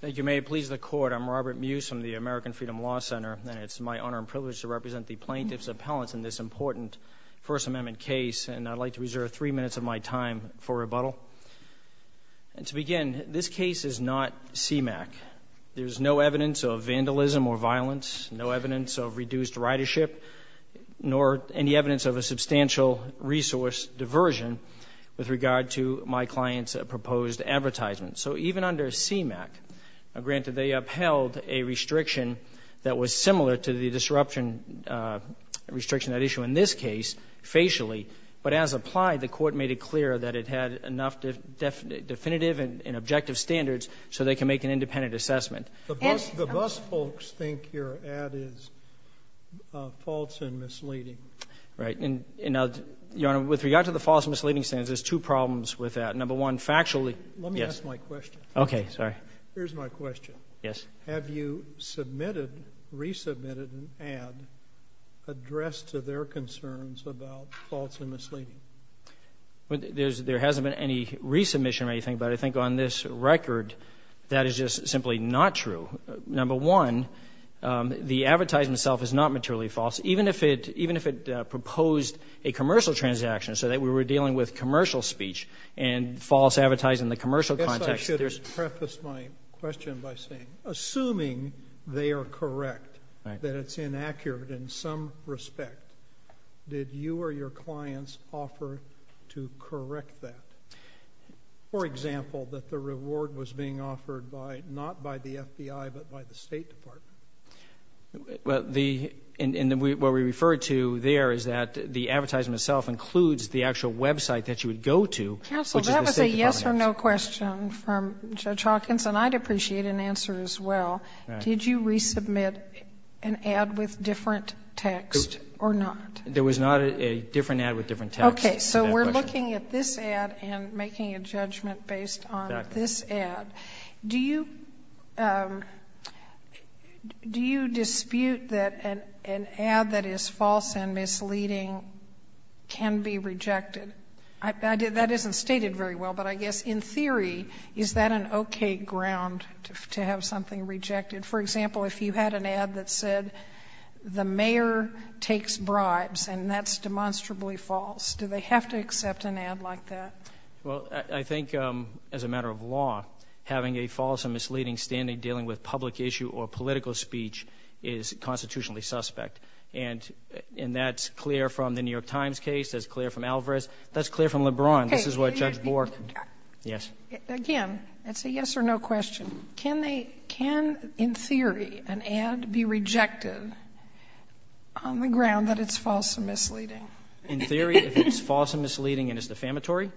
Thank you. May it please the Court. I'm Robert Muse from the American Freedom Law Center, and it's my honor and privilege to represent the plaintiffs' appellants in this important First Amendment case, and I'd like to reserve three minutes of my time for rebuttal. And to begin, this case is not CMAQ. There's no evidence of vandalism or violence, no evidence of reduced ridership, nor any evidence of a substantial resource diversion with regard to my client's proposed advertisement. So even under CMAQ, granted, they upheld a restriction that was similar to the disruption restriction at issue in this case, facially, but as applied, the Court made it clear that it had enough definitive and objective standards so they can make an independent assessment. The bus folks think your ad is false and misleading. Right. And, Your Honor, with regard to the false and misleading standards, there's two problems with that. Number one, factually, yes. Here's my question. Okay. Sorry. Here's my question. Yes. Have you submitted, resubmitted an ad addressed to their concerns about false and misleading? There hasn't been any resubmission or anything, but I think on this record, that is just simply not true. Number one, the advertisement itself is not materially false, even if it proposed a commercial transaction so that we were dealing with commercial speech and false advertising in the commercial context. I guess I should preface my question by saying, assuming they are correct, that it's inaccurate in some respect, did you or your clients offer to correct that? For example, that the reward was being offered by, not by the FBI, but by the State Department. Well, the, and what we referred to there is that the advertisement itself includes the actual website that you would go to, which is the State Department. That's a yes or no question from Judge Hawkins, and I'd appreciate an answer as well. Did you resubmit an ad with different text or not? There was not a different ad with different text. Okay. So we're looking at this ad and making a judgment based on this ad. Do you, do you dispute that an ad that is false and misleading can be rejected? That isn't stated very well, but I guess in theory, is that an okay ground to have something rejected? For example, if you had an ad that said, the mayor takes bribes, and that's demonstrably false, do they have to accept an ad like that? Well, I think as a matter of law, having a false and misleading standing dealing with public issue or political speech is constitutionally suspect. And that's clear from the New York Times case. That's clear from Alvarez. That's clear from LeBron. This is what Judge Bork. Yes. Again, it's a yes or no question. Can they, can, in theory, an ad be rejected on the ground that it's false and misleading? In theory, if it's false and misleading and it's defamatory,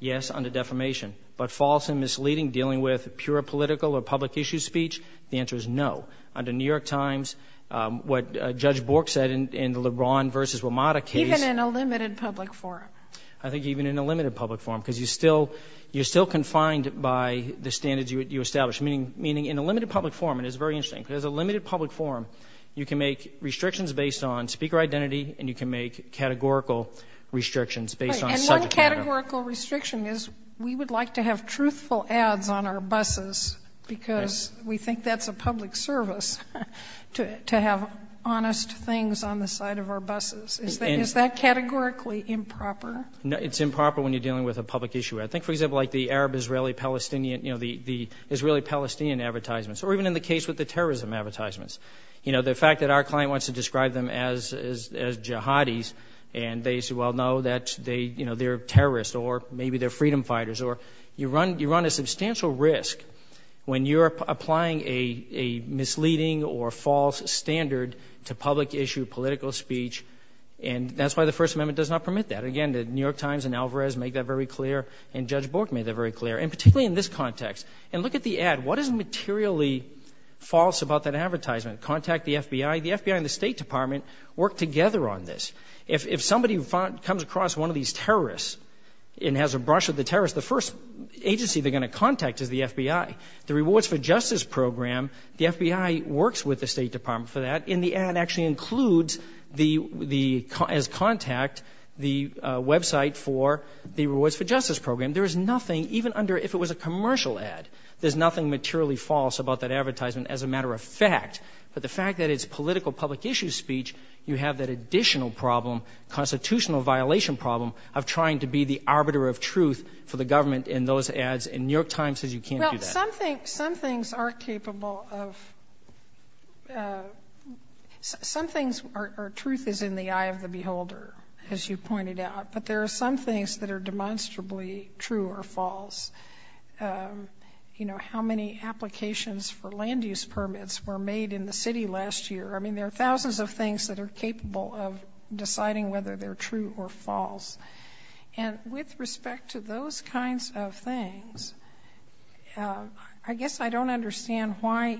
yes, under defamation. But false and misleading dealing with pure political or public issue speech, the answer is no. Under New York Times, what Judge Bork said in the LeBron v. WMATA case. Even in a limited public forum? I think even in a limited public forum, because you still, you're still confined by the standards you establish. Meaning, in a limited public forum, and it's very interesting, because a limited public forum, you can make restrictions based on speaker identity and you can make categorical restrictions based on subject matter. But a categorical restriction is we would like to have truthful ads on our buses because we think that's a public service to have honest things on the side of our buses. Is that categorically improper? It's improper when you're dealing with a public issue. I think, for example, like the Arab-Israeli-Palestinian, you know, the Israeli-Palestinian advertisements, or even in the case with the terrorism advertisements, you know, the fact that our client wants to describe them as jihadis and they say, well, no, they're terrorists or maybe they're freedom fighters. You run a substantial risk when you're applying a misleading or false standard to public issue political speech and that's why the First Amendment does not permit that. Again, the New York Times and Alvarez make that very clear and Judge Bork made that very clear, and particularly in this context. And look at the ad. What is materially false about that advertisement? Contact the FBI. The FBI and the State Department work together on this. If somebody comes across one of these terrorists and has a brush with the terrorists, the first agency they're going to contact is the FBI. The Rewards for Justice Program, the FBI works with the State Department for that, and the ad actually includes the, as contact, the website for the Rewards for Justice Program. There is nothing, even under if it was a commercial ad, there's nothing materially false about that advertisement as a matter of fact. But the fact that it's political public issue speech, you have that additional problem, constitutional violation problem, of trying to be the arbiter of truth for the government in those ads, and New York Times says you can't do that. Well, some things are capable of, some things are, truth is in the eye of the beholder, as you pointed out, but there are some things that are demonstrably true or false. You know, how many applications for land use permits were made in the city last year. I mean, there are thousands of things that are capable of deciding whether they're true or false. And with respect to those kinds of things, I guess I don't understand why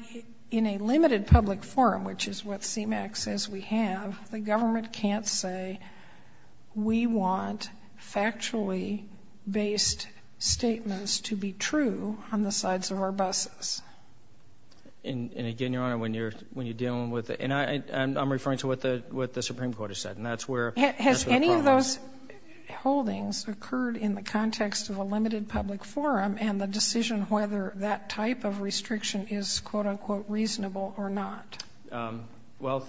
in a limited public forum, which is what CMAQ says we have, the government can't say we want factually based statements to be true on the sides of our buses. And again, Your Honor, when you're dealing with, and I'm referring to what the Supreme Court has said, and that's where the problem is. Has any of those holdings occurred in the context of a limited public forum and the decision whether that type of restriction is, quote-unquote, reasonable or not? Well,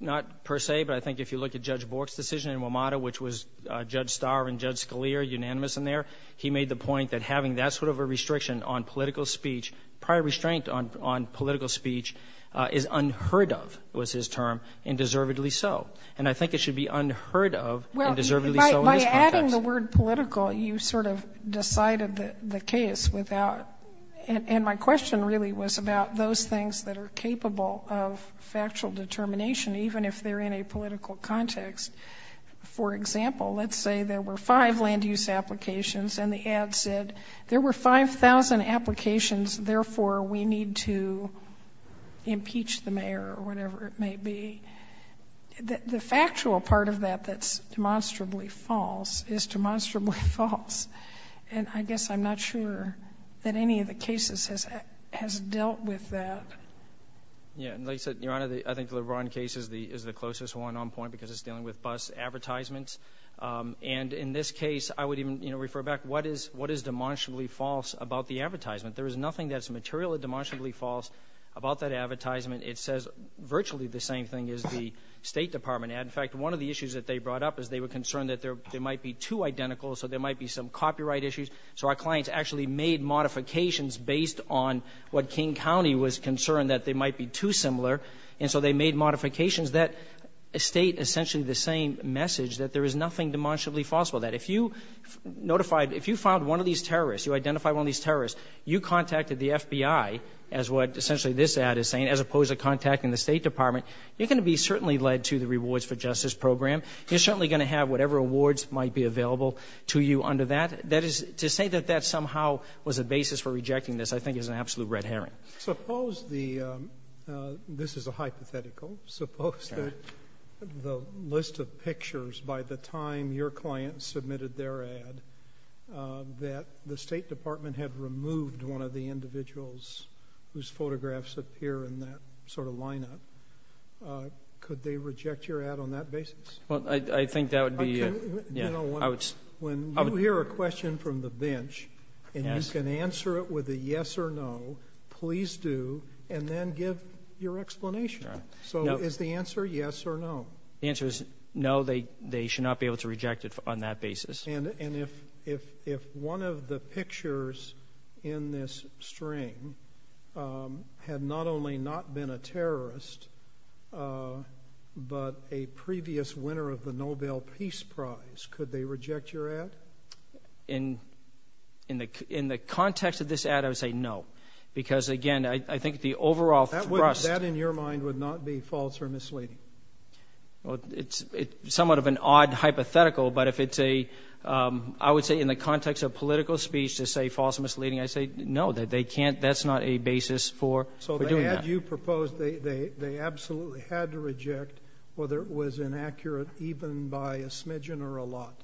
not per se, but I think if you look at Judge Bork's decision in WMATA, which was Judge Starr and Judge Scalia unanimous in there, he made the point that having that sort of a restriction on political speech, prior restraint on political speech, is unheard of, was his term, and deservedly so. And I think it should be unheard of and deservedly so in this context. Adding the word political, you sort of decided the case without, and my question really was about those things that are capable of factual determination, even if they're in a political context. For example, let's say there were five land use applications and the ad said, there were 5,000 applications, therefore we need to impeach the mayor or whatever it may be. The factual part of that that's demonstrably false is demonstrably false. And I guess I'm not sure that any of the cases has dealt with that. Yeah. And like you said, Your Honor, I think the LeBron case is the closest one on point because it's dealing with bus advertisements. And in this case, I would even refer back, what is demonstrably false about the advertisement? There is nothing that's materially demonstrably false about that advertisement. It says virtually the same thing as the State Department ad. In fact, one of the issues that they brought up is they were concerned that they might be too identical, so there might be some copyright issues. So our clients actually made modifications based on what King County was concerned that they might be too similar. And so they made modifications that state essentially the same message, that there is nothing demonstrably false about that. If you notified, if you found one of these terrorists, you identified one of these terrorists, you contacted the FBI, as what essentially this ad is saying, as opposed to contacting the State Department, you're going to be certainly led to the Rewards for Justice program. You're certainly going to have whatever awards might be available to you under that. That is, to say that that somehow was a basis for rejecting this I think is an absolute red herring. Suppose the, this is a hypothetical, suppose that the list of pictures by the time your client submitted their ad that the State Department had removed one of the individuals whose photographs appear in that sort of lineup. Could they reject your ad on that basis? Well, I think that would be, yeah, I would. When you hear a question from the bench and you can answer it with a yes or no, please do, and then give your explanation. So is the answer yes or no? The answer is no. They should not be able to reject it on that basis. And if one of the pictures in this string had not only not been a terrorist, but a previous winner of the Nobel Peace Prize, could they reject your ad? In the context of this ad, I would say no. Because, again, I think the overall thrust. That, in your mind, would not be false or misleading? Well, it's somewhat of an odd hypothetical, but if it's a, I would say in the context of political speech to say false or misleading, I'd say no, they can't, that's not a basis for doing that. So the ad you proposed, they absolutely had to reject, whether it was inaccurate, even by a smidgen or a lot.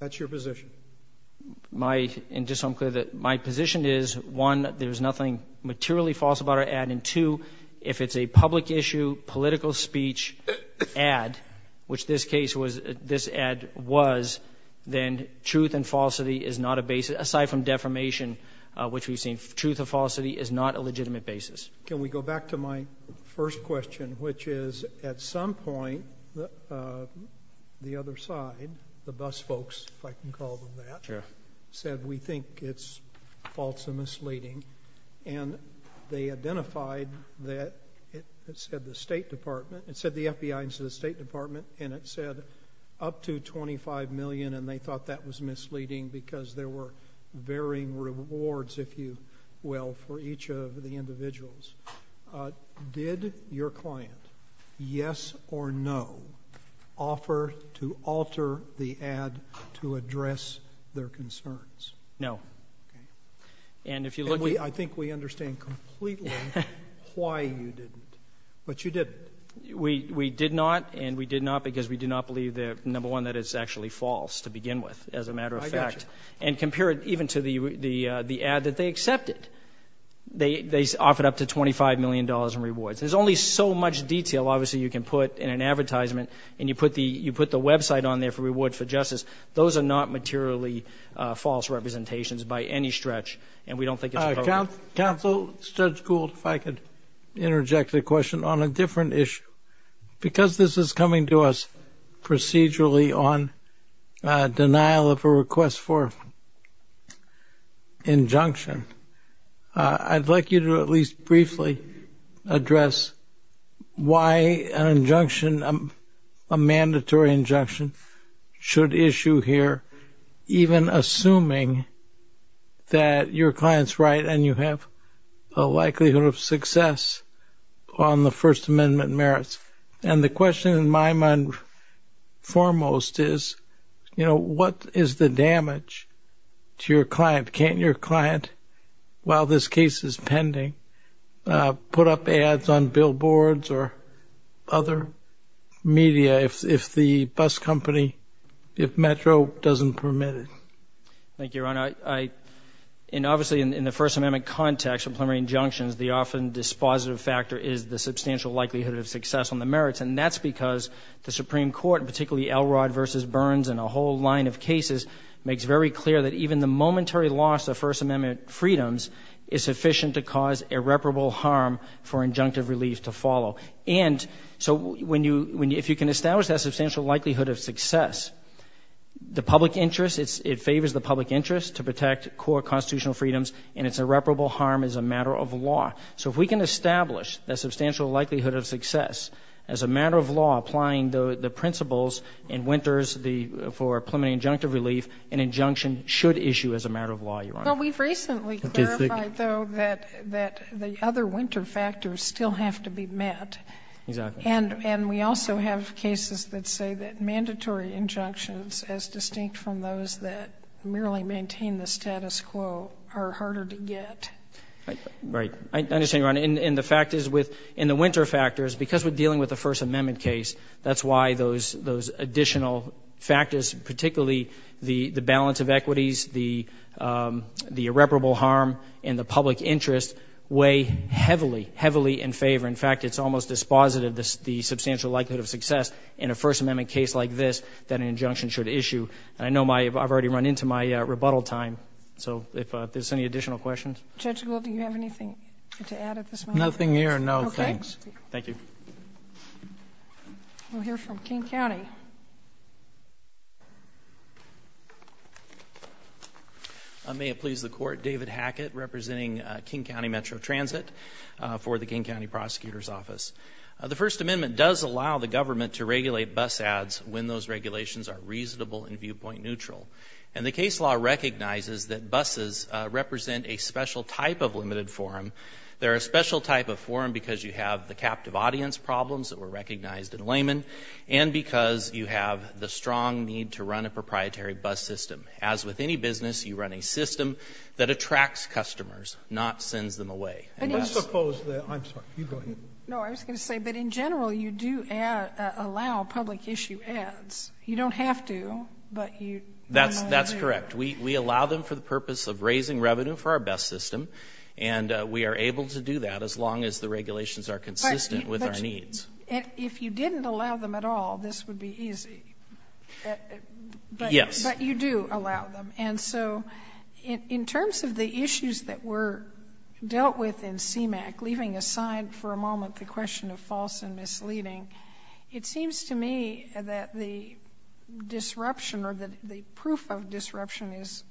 That's your position. And just so I'm clear, my position is, one, there's nothing materially false about our ad, and two, if it's a public issue, political speech ad, which this case was, this ad was, then truth and falsity is not a basis, aside from defamation, which we've seen truth and falsity is not a legitimate basis. Can we go back to my first question, which is, at some point, the other side, the bus folks, if I can call them that, said we think it's false and misleading, and they identified that, it said the State Department, it said the FBI, and it said the State Department, and it said up to $25 million, and they thought that was misleading because there were varying rewards, if you will, for each of the individuals. Did your client, yes or no, offer to alter the ad to address their concerns? No. Okay. And if you look at the other side, I think we understand completely why you didn't, but you didn't. We did not, and we did not because we do not believe, number one, that it's actually false to begin with, as a matter of fact. I got you. And compare it even to the ad that they accepted. They offered up to $25 million in rewards. There's only so much detail, obviously, you can put in an advertisement, and you put the website on there for rewards for justice. Those are not materially false representations by any stretch, and we don't think it's appropriate. Counsel, Judge Gould, if I could interject a question on a different issue. Because this is coming to us procedurally on denial of a request for injunction, I'd like you to at least briefly address why an injunction, a mandatory injunction should issue here, even assuming that your client's right and you have a likelihood of success on the First Amendment merits. And the question in my mind foremost is, you know, what is the damage to your client? Can't your client, while this case is pending, put up ads on billboards or other media if the bus company, if Metro doesn't permit it? Thank you, Your Honor. Obviously, in the First Amendment context of preliminary injunctions, the often dispositive factor is the substantial likelihood of success on the merits, and that's because the Supreme Court, particularly Elrod v. Burns and a whole line of cases, makes very clear that even the momentary loss of First Amendment freedoms is sufficient to cause irreparable harm for injunctive relief to follow. And so if you can establish that substantial likelihood of success, the public interest, it favors the public interest to protect core constitutional freedoms, and it's irreparable harm as a matter of law. So if we can establish that substantial likelihood of success as a matter of law, applying the principles in Winters for preliminary injunctive relief, an injunction should issue as a matter of law, Your Honor. Well, we've recently clarified, though, that the other winter factors still have to be met. Exactly. And we also have cases that say that mandatory injunctions, as distinct from those that merely maintain the status quo, are harder to get. I understand, Your Honor. And the fact is, in the winter factors, because we're dealing with a First Amendment case, that's why those additional factors, particularly the balance of equities, the irreparable harm in the public interest, weigh heavily, heavily in favor. In fact, it's almost dispositive, the substantial likelihood of success in a First Amendment case like this that an injunction should issue. And I know I've already run into my rebuttal time. So if there's any additional questions. Judge Gould, do you have anything to add at this moment? Nothing here, no, thanks. Okay. We'll hear from King County. May it please the Court. David Hackett, representing King County Metro Transit for the King County Prosecutor's Office. The First Amendment does allow the government to regulate bus ads when those regulations are reasonable and viewpoint neutral. And the case law recognizes that buses represent a special type of limited forum. They're a special type of forum because you have the captive audience problems that were recognized in layman and because you have the strong need to run a proprietary bus system. As with any business, you run a system that attracts customers, not sends them away. Let's suppose that, I'm sorry, you go ahead. No, I was going to say, but in general, you do allow public issue ads. You don't have to, but you do. That's correct. We allow them for the purpose of raising revenue for our bus system, and we are able to do that as long as the regulations are consistent with our needs. But if you didn't allow them at all, this would be easy. Yes. But you do allow them. And so in terms of the issues that were dealt with in CMAQ, leaving aside for a moment the question of false and misleading, it seems to me that the disruption or the proof of disruption is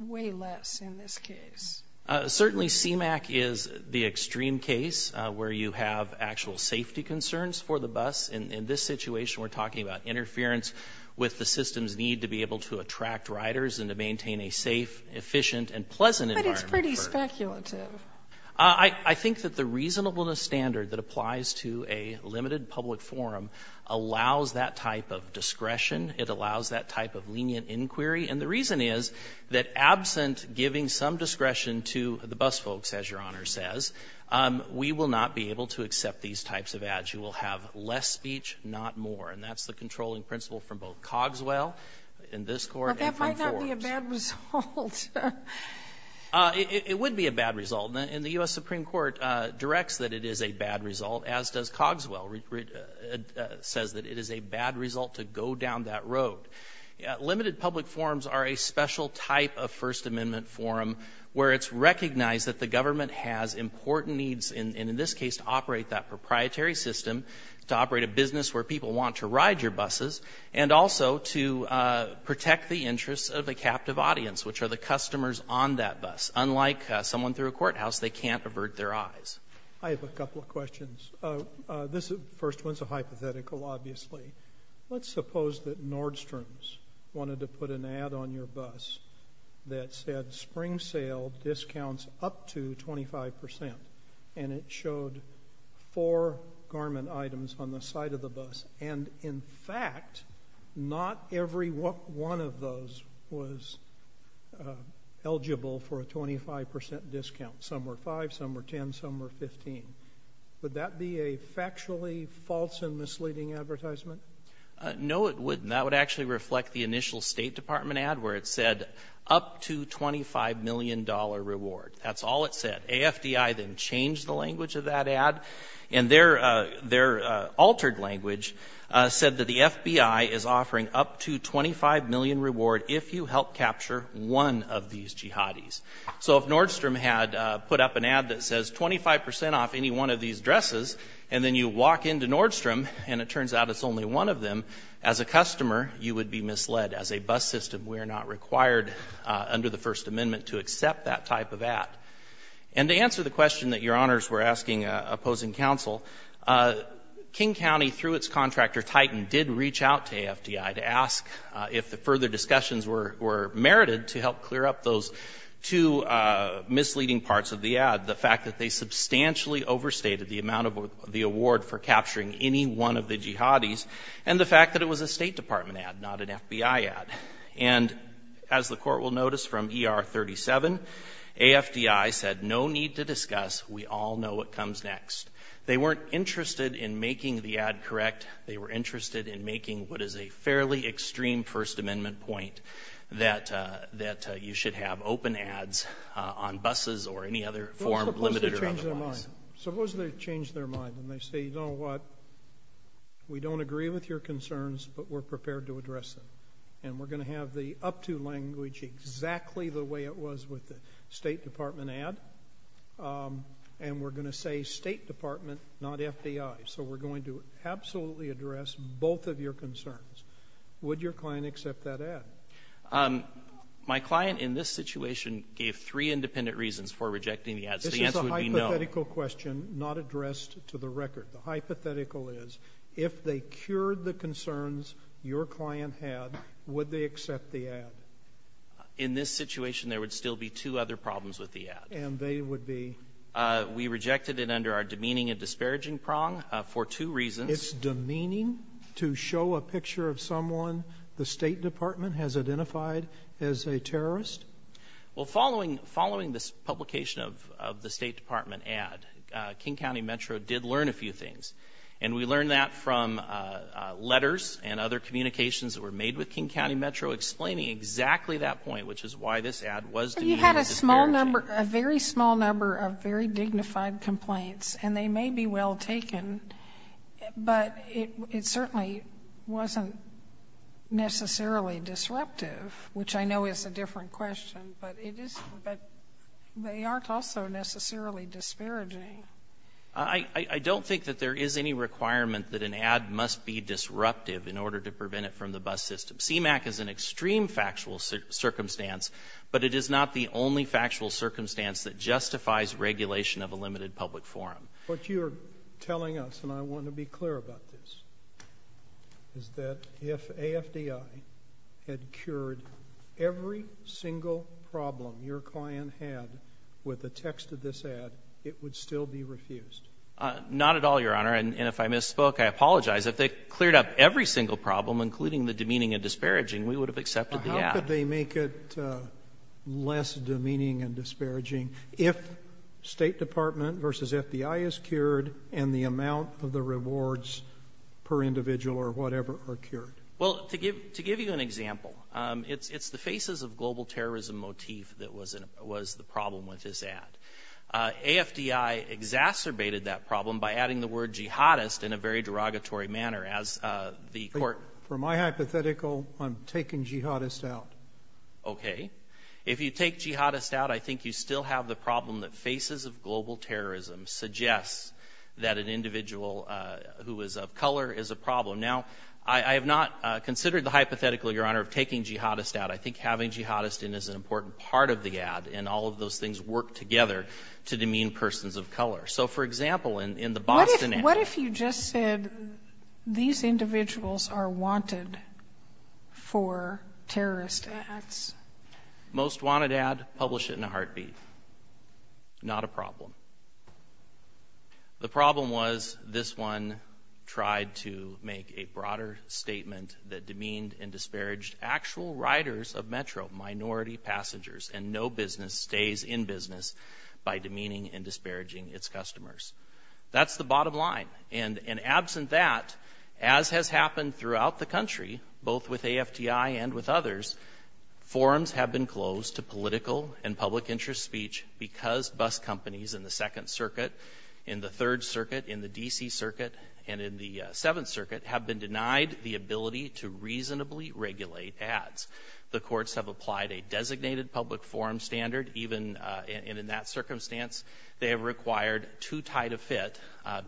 way less in this case. Certainly CMAQ is the extreme case where you have actual safety concerns for the bus. In this situation, we're talking about interference with the system's need to be able to attract riders and to maintain a safe, efficient, and pleasant environment. But it's pretty speculative. I think that the reasonableness standard that applies to a limited public forum allows that type of discretion. It allows that type of lenient inquiry. And the reason is that absent giving some discretion to the bus folks, as Your Honor says, we will not be able to accept these types of ads. You will have less speech, not more. And that's the controlling principle from both Cogswell in this court and from Forbes. But that might not be a bad result. It would be a bad result. And the U.S. Supreme Court directs that it is a bad result, as does Cogswell says that it is a bad result to go down that road. Limited public forums are a special type of First Amendment forum where it's recognized that the government has important needs, and in this case to operate that proprietary system, to operate a business where people want to ride your buses, and also to protect the interests of a captive audience, which are the customers on that bus. Unlike someone through a courthouse, they can't avert their eyes. I have a couple of questions. This first one is a hypothetical, obviously. Let's suppose that Nordstrom's wanted to put an ad on your bus that said, spring sale discounts up to 25%, and it showed four garment items on the side of the bus, and in fact not every one of those was eligible for a 25% discount. Some were 5%, some were 10%, some were 15%. Would that be a factually false and misleading advertisement? No, it wouldn't. That would actually reflect the initial State Department ad where it said, up to $25 million reward. That's all it said. AFDI then changed the language of that ad, and their altered language said that the FBI is offering up to $25 million reward if you help capture one of these jihadis. So if Nordstrom had put up an ad that says 25% off any one of these dresses, and then you walk into Nordstrom, and it turns out it's only one of them, as a customer you would be misled. As a bus system we are not required under the First Amendment to accept that type of ad. And to answer the question that Your Honors were asking opposing counsel, King County, through its contractor Titan, did reach out to AFDI to ask if the further discussions were merited to help clear up those two misleading parts of the ad, the fact that they substantially overstated the amount of the award for capturing any one of the jihadis, and the fact that it was a State Department ad, not an FBI ad. And as the Court will notice from ER 37, AFDI said no need to discuss. We all know what comes next. They weren't interested in making the ad correct. They were interested in making what is a fairly extreme First Amendment point, that you should have open ads on buses or any other form limited or otherwise. Suppose they change their mind. Suppose they change their mind and they say, you know what, we don't agree with your concerns, but we're prepared to address them. And we're going to have the up-to language exactly the way it was with the State Department ad, and we're going to say State Department, not FBI. So we're going to absolutely address both of your concerns. Would your client accept that ad? My client in this situation gave three independent reasons for rejecting the ad, so the answer would be no. This is a hypothetical question not addressed to the record. The hypothetical is if they cured the concerns your client had, would they accept the ad? In this situation, there would still be two other problems with the ad. And they would be? We rejected it under our demeaning and disparaging prong for two reasons. It's demeaning to show a picture of someone the State Department has identified as a terrorist? Well, following this publication of the State Department ad, King County Metro did learn a few things, and we learned that from letters and other communications that were made with King County Metro explaining exactly that point, which is why this ad was demeaning and disparaging. You had a small number, a very small number of very dignified complaints, and they may be well taken, but it certainly wasn't necessarily disruptive, which I know is a different question, but they aren't also necessarily disparaging. I don't think that there is any requirement that an ad must be disruptive in order to prevent it from the bus system. CMAQ is an extreme factual circumstance, but it is not the only factual circumstance that justifies regulation of a limited public forum. What you're telling us, and I want to be clear about this, is that if AFDI had cured every single problem your client had with the text of this ad, it would still be refused? Not at all, Your Honor, and if I misspoke, I apologize. If they cleared up every single problem, including the demeaning and disparaging, we would have accepted the ad. How could they make it less demeaning and disparaging if State Department versus FBI is cured and the amount of the rewards per individual or whatever are cured? Well, to give you an example, it's the faces of global terrorism motif that was the problem with this ad. AFDI exacerbated that problem by adding the word jihadist in a very derogatory manner. From my hypothetical, I'm taking jihadist out. Okay. If you take jihadist out, I think you still have the problem that faces of global terrorism suggests that an individual who is of color is a problem. Now, I have not considered the hypothetical, Your Honor, of taking jihadist out. I think having jihadist in is an important part of the ad, and all of those things work together to demean persons of color. So, for example, in the Boston ad. What if you just said these individuals are wanted for terrorist ads? Most wanted ad, publish it in a heartbeat. Not a problem. The problem was this one tried to make a broader statement that demeaned and disparaged actual riders of Metro, minority passengers, and no business stays in business by demeaning and disparaging its customers. That's the bottom line. And absent that, as has happened throughout the country, both with AFTI and with others, forums have been closed to political and public interest speech because bus companies in the Second Circuit, in the Third Circuit, in the D.C. Circuit, and in the Seventh Circuit have been denied the ability to reasonably regulate ads. The courts have applied a designated public forum standard, even in that circumstance. They have required too tight a fit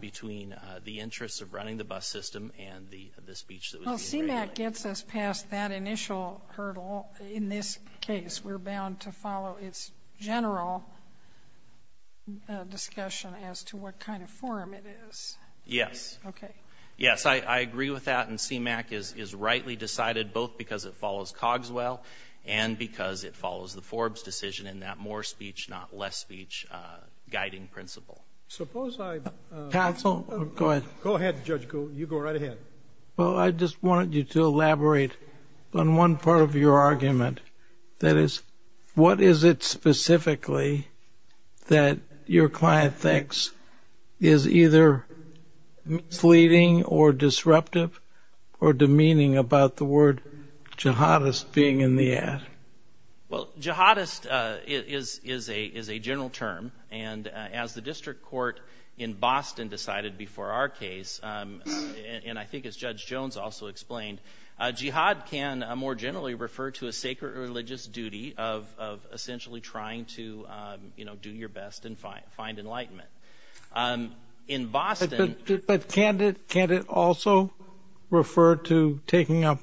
between the interests of running the bus system and the speech that was being regulated. Well, CMAQ gets us past that initial hurdle. In this case, we're bound to follow its general discussion as to what kind of forum it is. Yes. Okay. Yes, I agree with that, and CMAQ is rightly decided both because it follows Cogswell and because it follows the Forbes decision in that more speech, not less speech, guiding principle. Suppose I... Counsel, go ahead. Go ahead, Judge Gould. You go right ahead. Well, I just wanted you to elaborate on one part of your argument. That is, what is it specifically that your client thinks is either misleading or disruptive or demeaning about the word jihadist being in the ad? Well, jihadist is a general term, and as the district court in Boston decided before our case, and I think as Judge Jones also explained, jihad can more generally refer to a sacred religious duty of essentially trying to do your best and find enlightenment. In Boston... But can't it also refer to taking up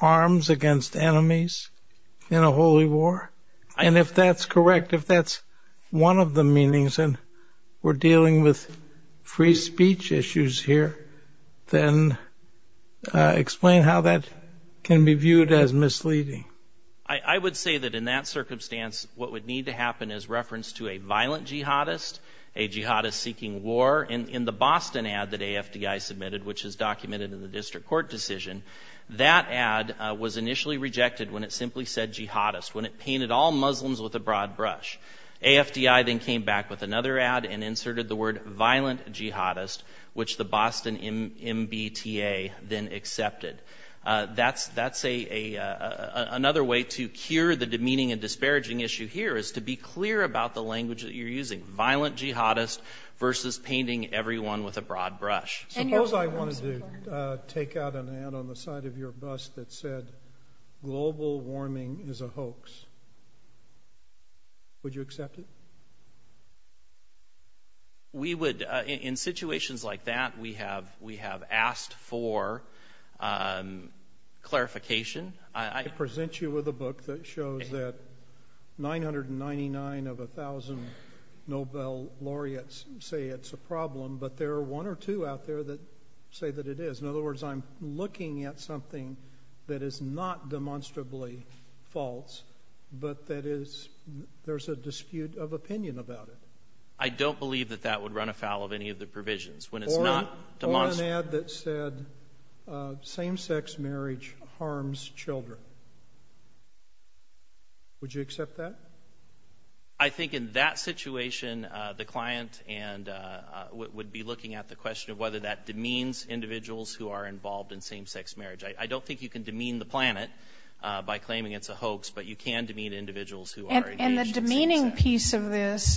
arms against enemies in a holy war? And if that's correct, if that's one of the meanings, and we're dealing with free speech issues here, then explain how that can be viewed as misleading. I would say that in that circumstance, what would need to happen is reference to a violent jihadist, a jihadist seeking war. In the Boston ad that AFDI submitted, which is documented in the district court decision, that ad was initially rejected when it simply said jihadist, when it painted all Muslims with a broad brush. AFDI then came back with another ad and inserted the word violent jihadist, which the Boston MBTA then accepted. That's another way to cure the demeaning and disparaging issue here, is to be clear about the language that you're using. Violent jihadist versus painting everyone with a broad brush. Suppose I wanted to take out an ad on the side of your bus that said, global warming is a hoax. Would you accept it? We would. In situations like that, we have asked for clarification. I present you with a book that shows that 999 of 1,000 Nobel laureates say it's a problem, but there are one or two out there that say that it is. In other words, I'm looking at something that is not demonstrably false, but there's a dispute of opinion about it. I don't believe that that would run afoul of any of the provisions. Or an ad that said, same-sex marriage harms children. Would you accept that? I think in that situation, the client would be looking at the question of whether that demeans individuals who are involved in same-sex marriage. I don't think you can demean the planet by claiming it's a hoax, but you can demean individuals who are engaged in same-sex marriage.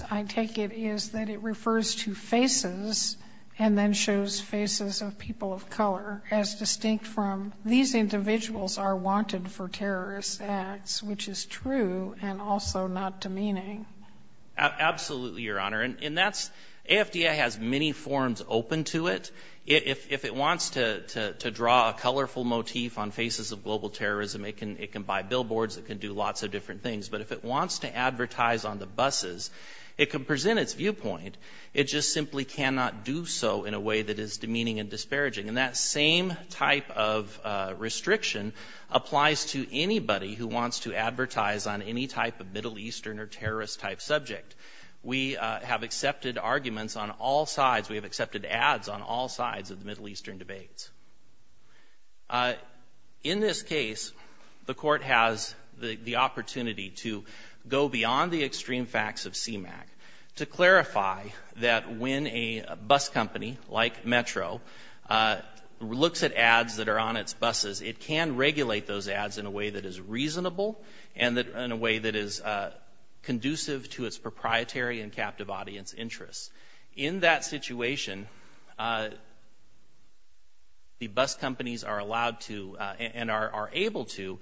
And then shows faces of people of color, as distinct from these individuals are wanted for terrorist acts, which is true and also not demeaning. Absolutely, Your Honor. And that's, AFDA has many forms open to it. If it wants to draw a colorful motif on faces of global terrorism, it can buy billboards, it can do lots of different things. But if it wants to advertise on the buses, it can present its viewpoint. It just simply cannot do so in a way that is demeaning and disparaging. And that same type of restriction applies to anybody who wants to advertise on any type of Middle Eastern or terrorist-type subject. We have accepted arguments on all sides. We have accepted ads on all sides of the Middle Eastern debates. In this case, the Court has the opportunity to go beyond the extreme facts of CMAQ to clarify that when a bus company, like Metro, looks at ads that are on its buses, it can regulate those ads in a way that is reasonable and in a way that is conducive to its proprietary and captive audience interests. In that situation, the bus companies are allowed to and are able to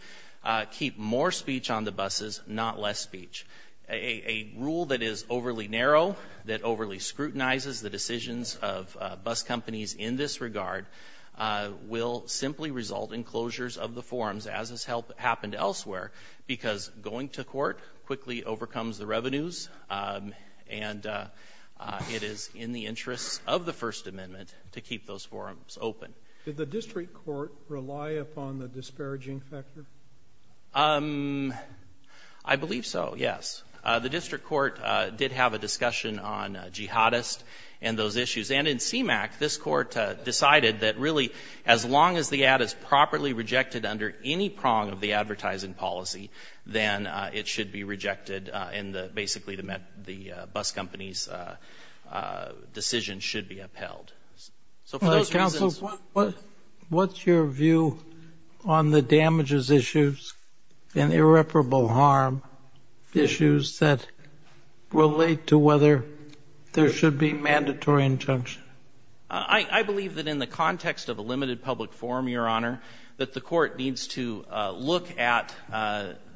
keep more speech on the buses, not less speech. A rule that is overly narrow, that overly scrutinizes the decisions of bus companies in this regard, will simply result in closures of the forums, as has happened elsewhere, because going to court quickly overcomes the revenues, and it is in the interests of the First Amendment to keep those forums open. Did the district court rely upon the disparaging factor? I believe so, yes. The district court did have a discussion on jihadist and those issues, and in CMAQ this court decided that really as long as the ad is properly rejected under any prong of the advertising policy, then it should be rejected and basically the bus company's decision should be upheld. Counsel, what's your view on the damages issues and irreparable harm issues that relate to whether there should be mandatory injunction? I believe that in the context of a limited public forum, Your Honor, that the court needs to look at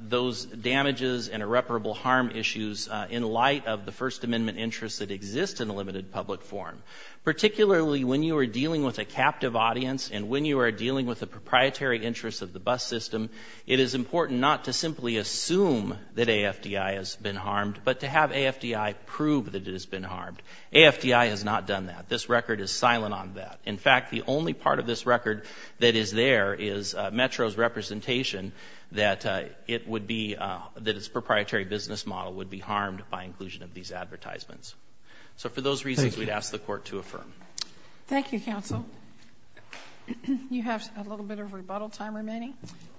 those damages and irreparable harm issues in light of the First Amendment interests that exist in a limited public forum, particularly when you are dealing with a captive audience and when you are dealing with the proprietary interests of the bus system. It is important not to simply assume that AFDI has been harmed, but to have AFDI prove that it has been harmed. AFDI has not done that. This record is silent on that. In fact, the only part of this record that is there is Metro's representation that its proprietary business model would be harmed by inclusion of these advertisements. So for those reasons, we'd ask the Court to affirm. Thank you, Counsel. You have a little bit of rebuttal time remaining.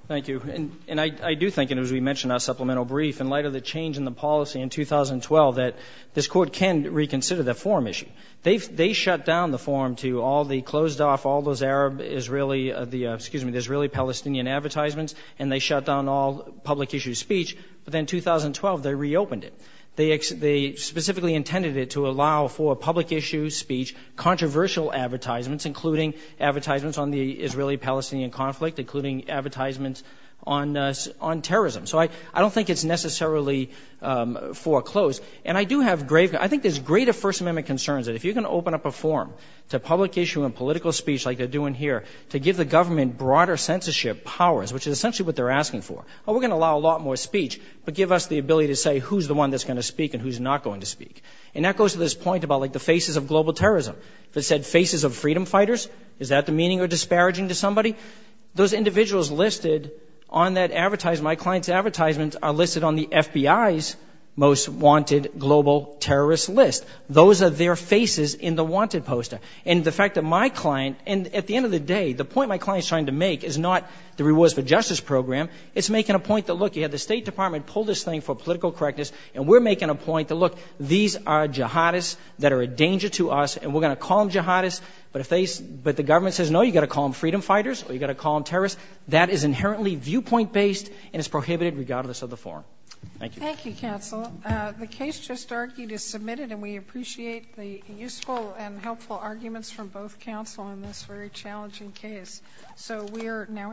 Thank you. And I do think, and as we mentioned in our supplemental brief, in light of the change in the policy in 2012 that this Court can reconsider the forum issue. They shut down the forum to all the closed-off, all those Arab-Israeli the, excuse me, the Israeli-Palestinian advertisements, and they shut down all public-issue speech. But then in 2012, they reopened it. They specifically intended it to allow for public-issue speech, controversial advertisements, including advertisements on the Israeli-Palestinian conflict, including advertisements on terrorism. So I don't think it's necessarily foreclosed. And I do have grave, I think there's greater First Amendment concerns that if you're going to open up a forum to public-issue and political speech like they're doing here, to give the government broader censorship powers, which is essentially what they're asking for. Oh, we're going to allow a lot more speech, but give us the ability to say who's the one that's going to speak and who's not going to speak. And that goes to this point about, like, the faces of global terrorism. If it said faces of freedom fighters, is that demeaning or disparaging to somebody? Those individuals listed on that advertisement, my client's advertisements, are listed on the FBI's most wanted global terrorist list. Those are their faces in the wanted poster. And the fact that my client, and at the end of the day, the point my client is trying to make is not the Rewards for Justice Program. It's making a point that, look, you had the State Department pull this thing for political correctness, and we're making a point that, look, these are jihadists that are a danger to us, and we're going to call them jihadists, but the government says, no, you've got to call them freedom fighters or you've got to call them terrorists. That is inherently viewpoint-based, and it's prohibited regardless of the forum. Thank you. Thank you, counsel. The case just argued is submitted, and we appreciate the useful and helpful arguments from both counsel in this very challenging case. So we are now adjourned.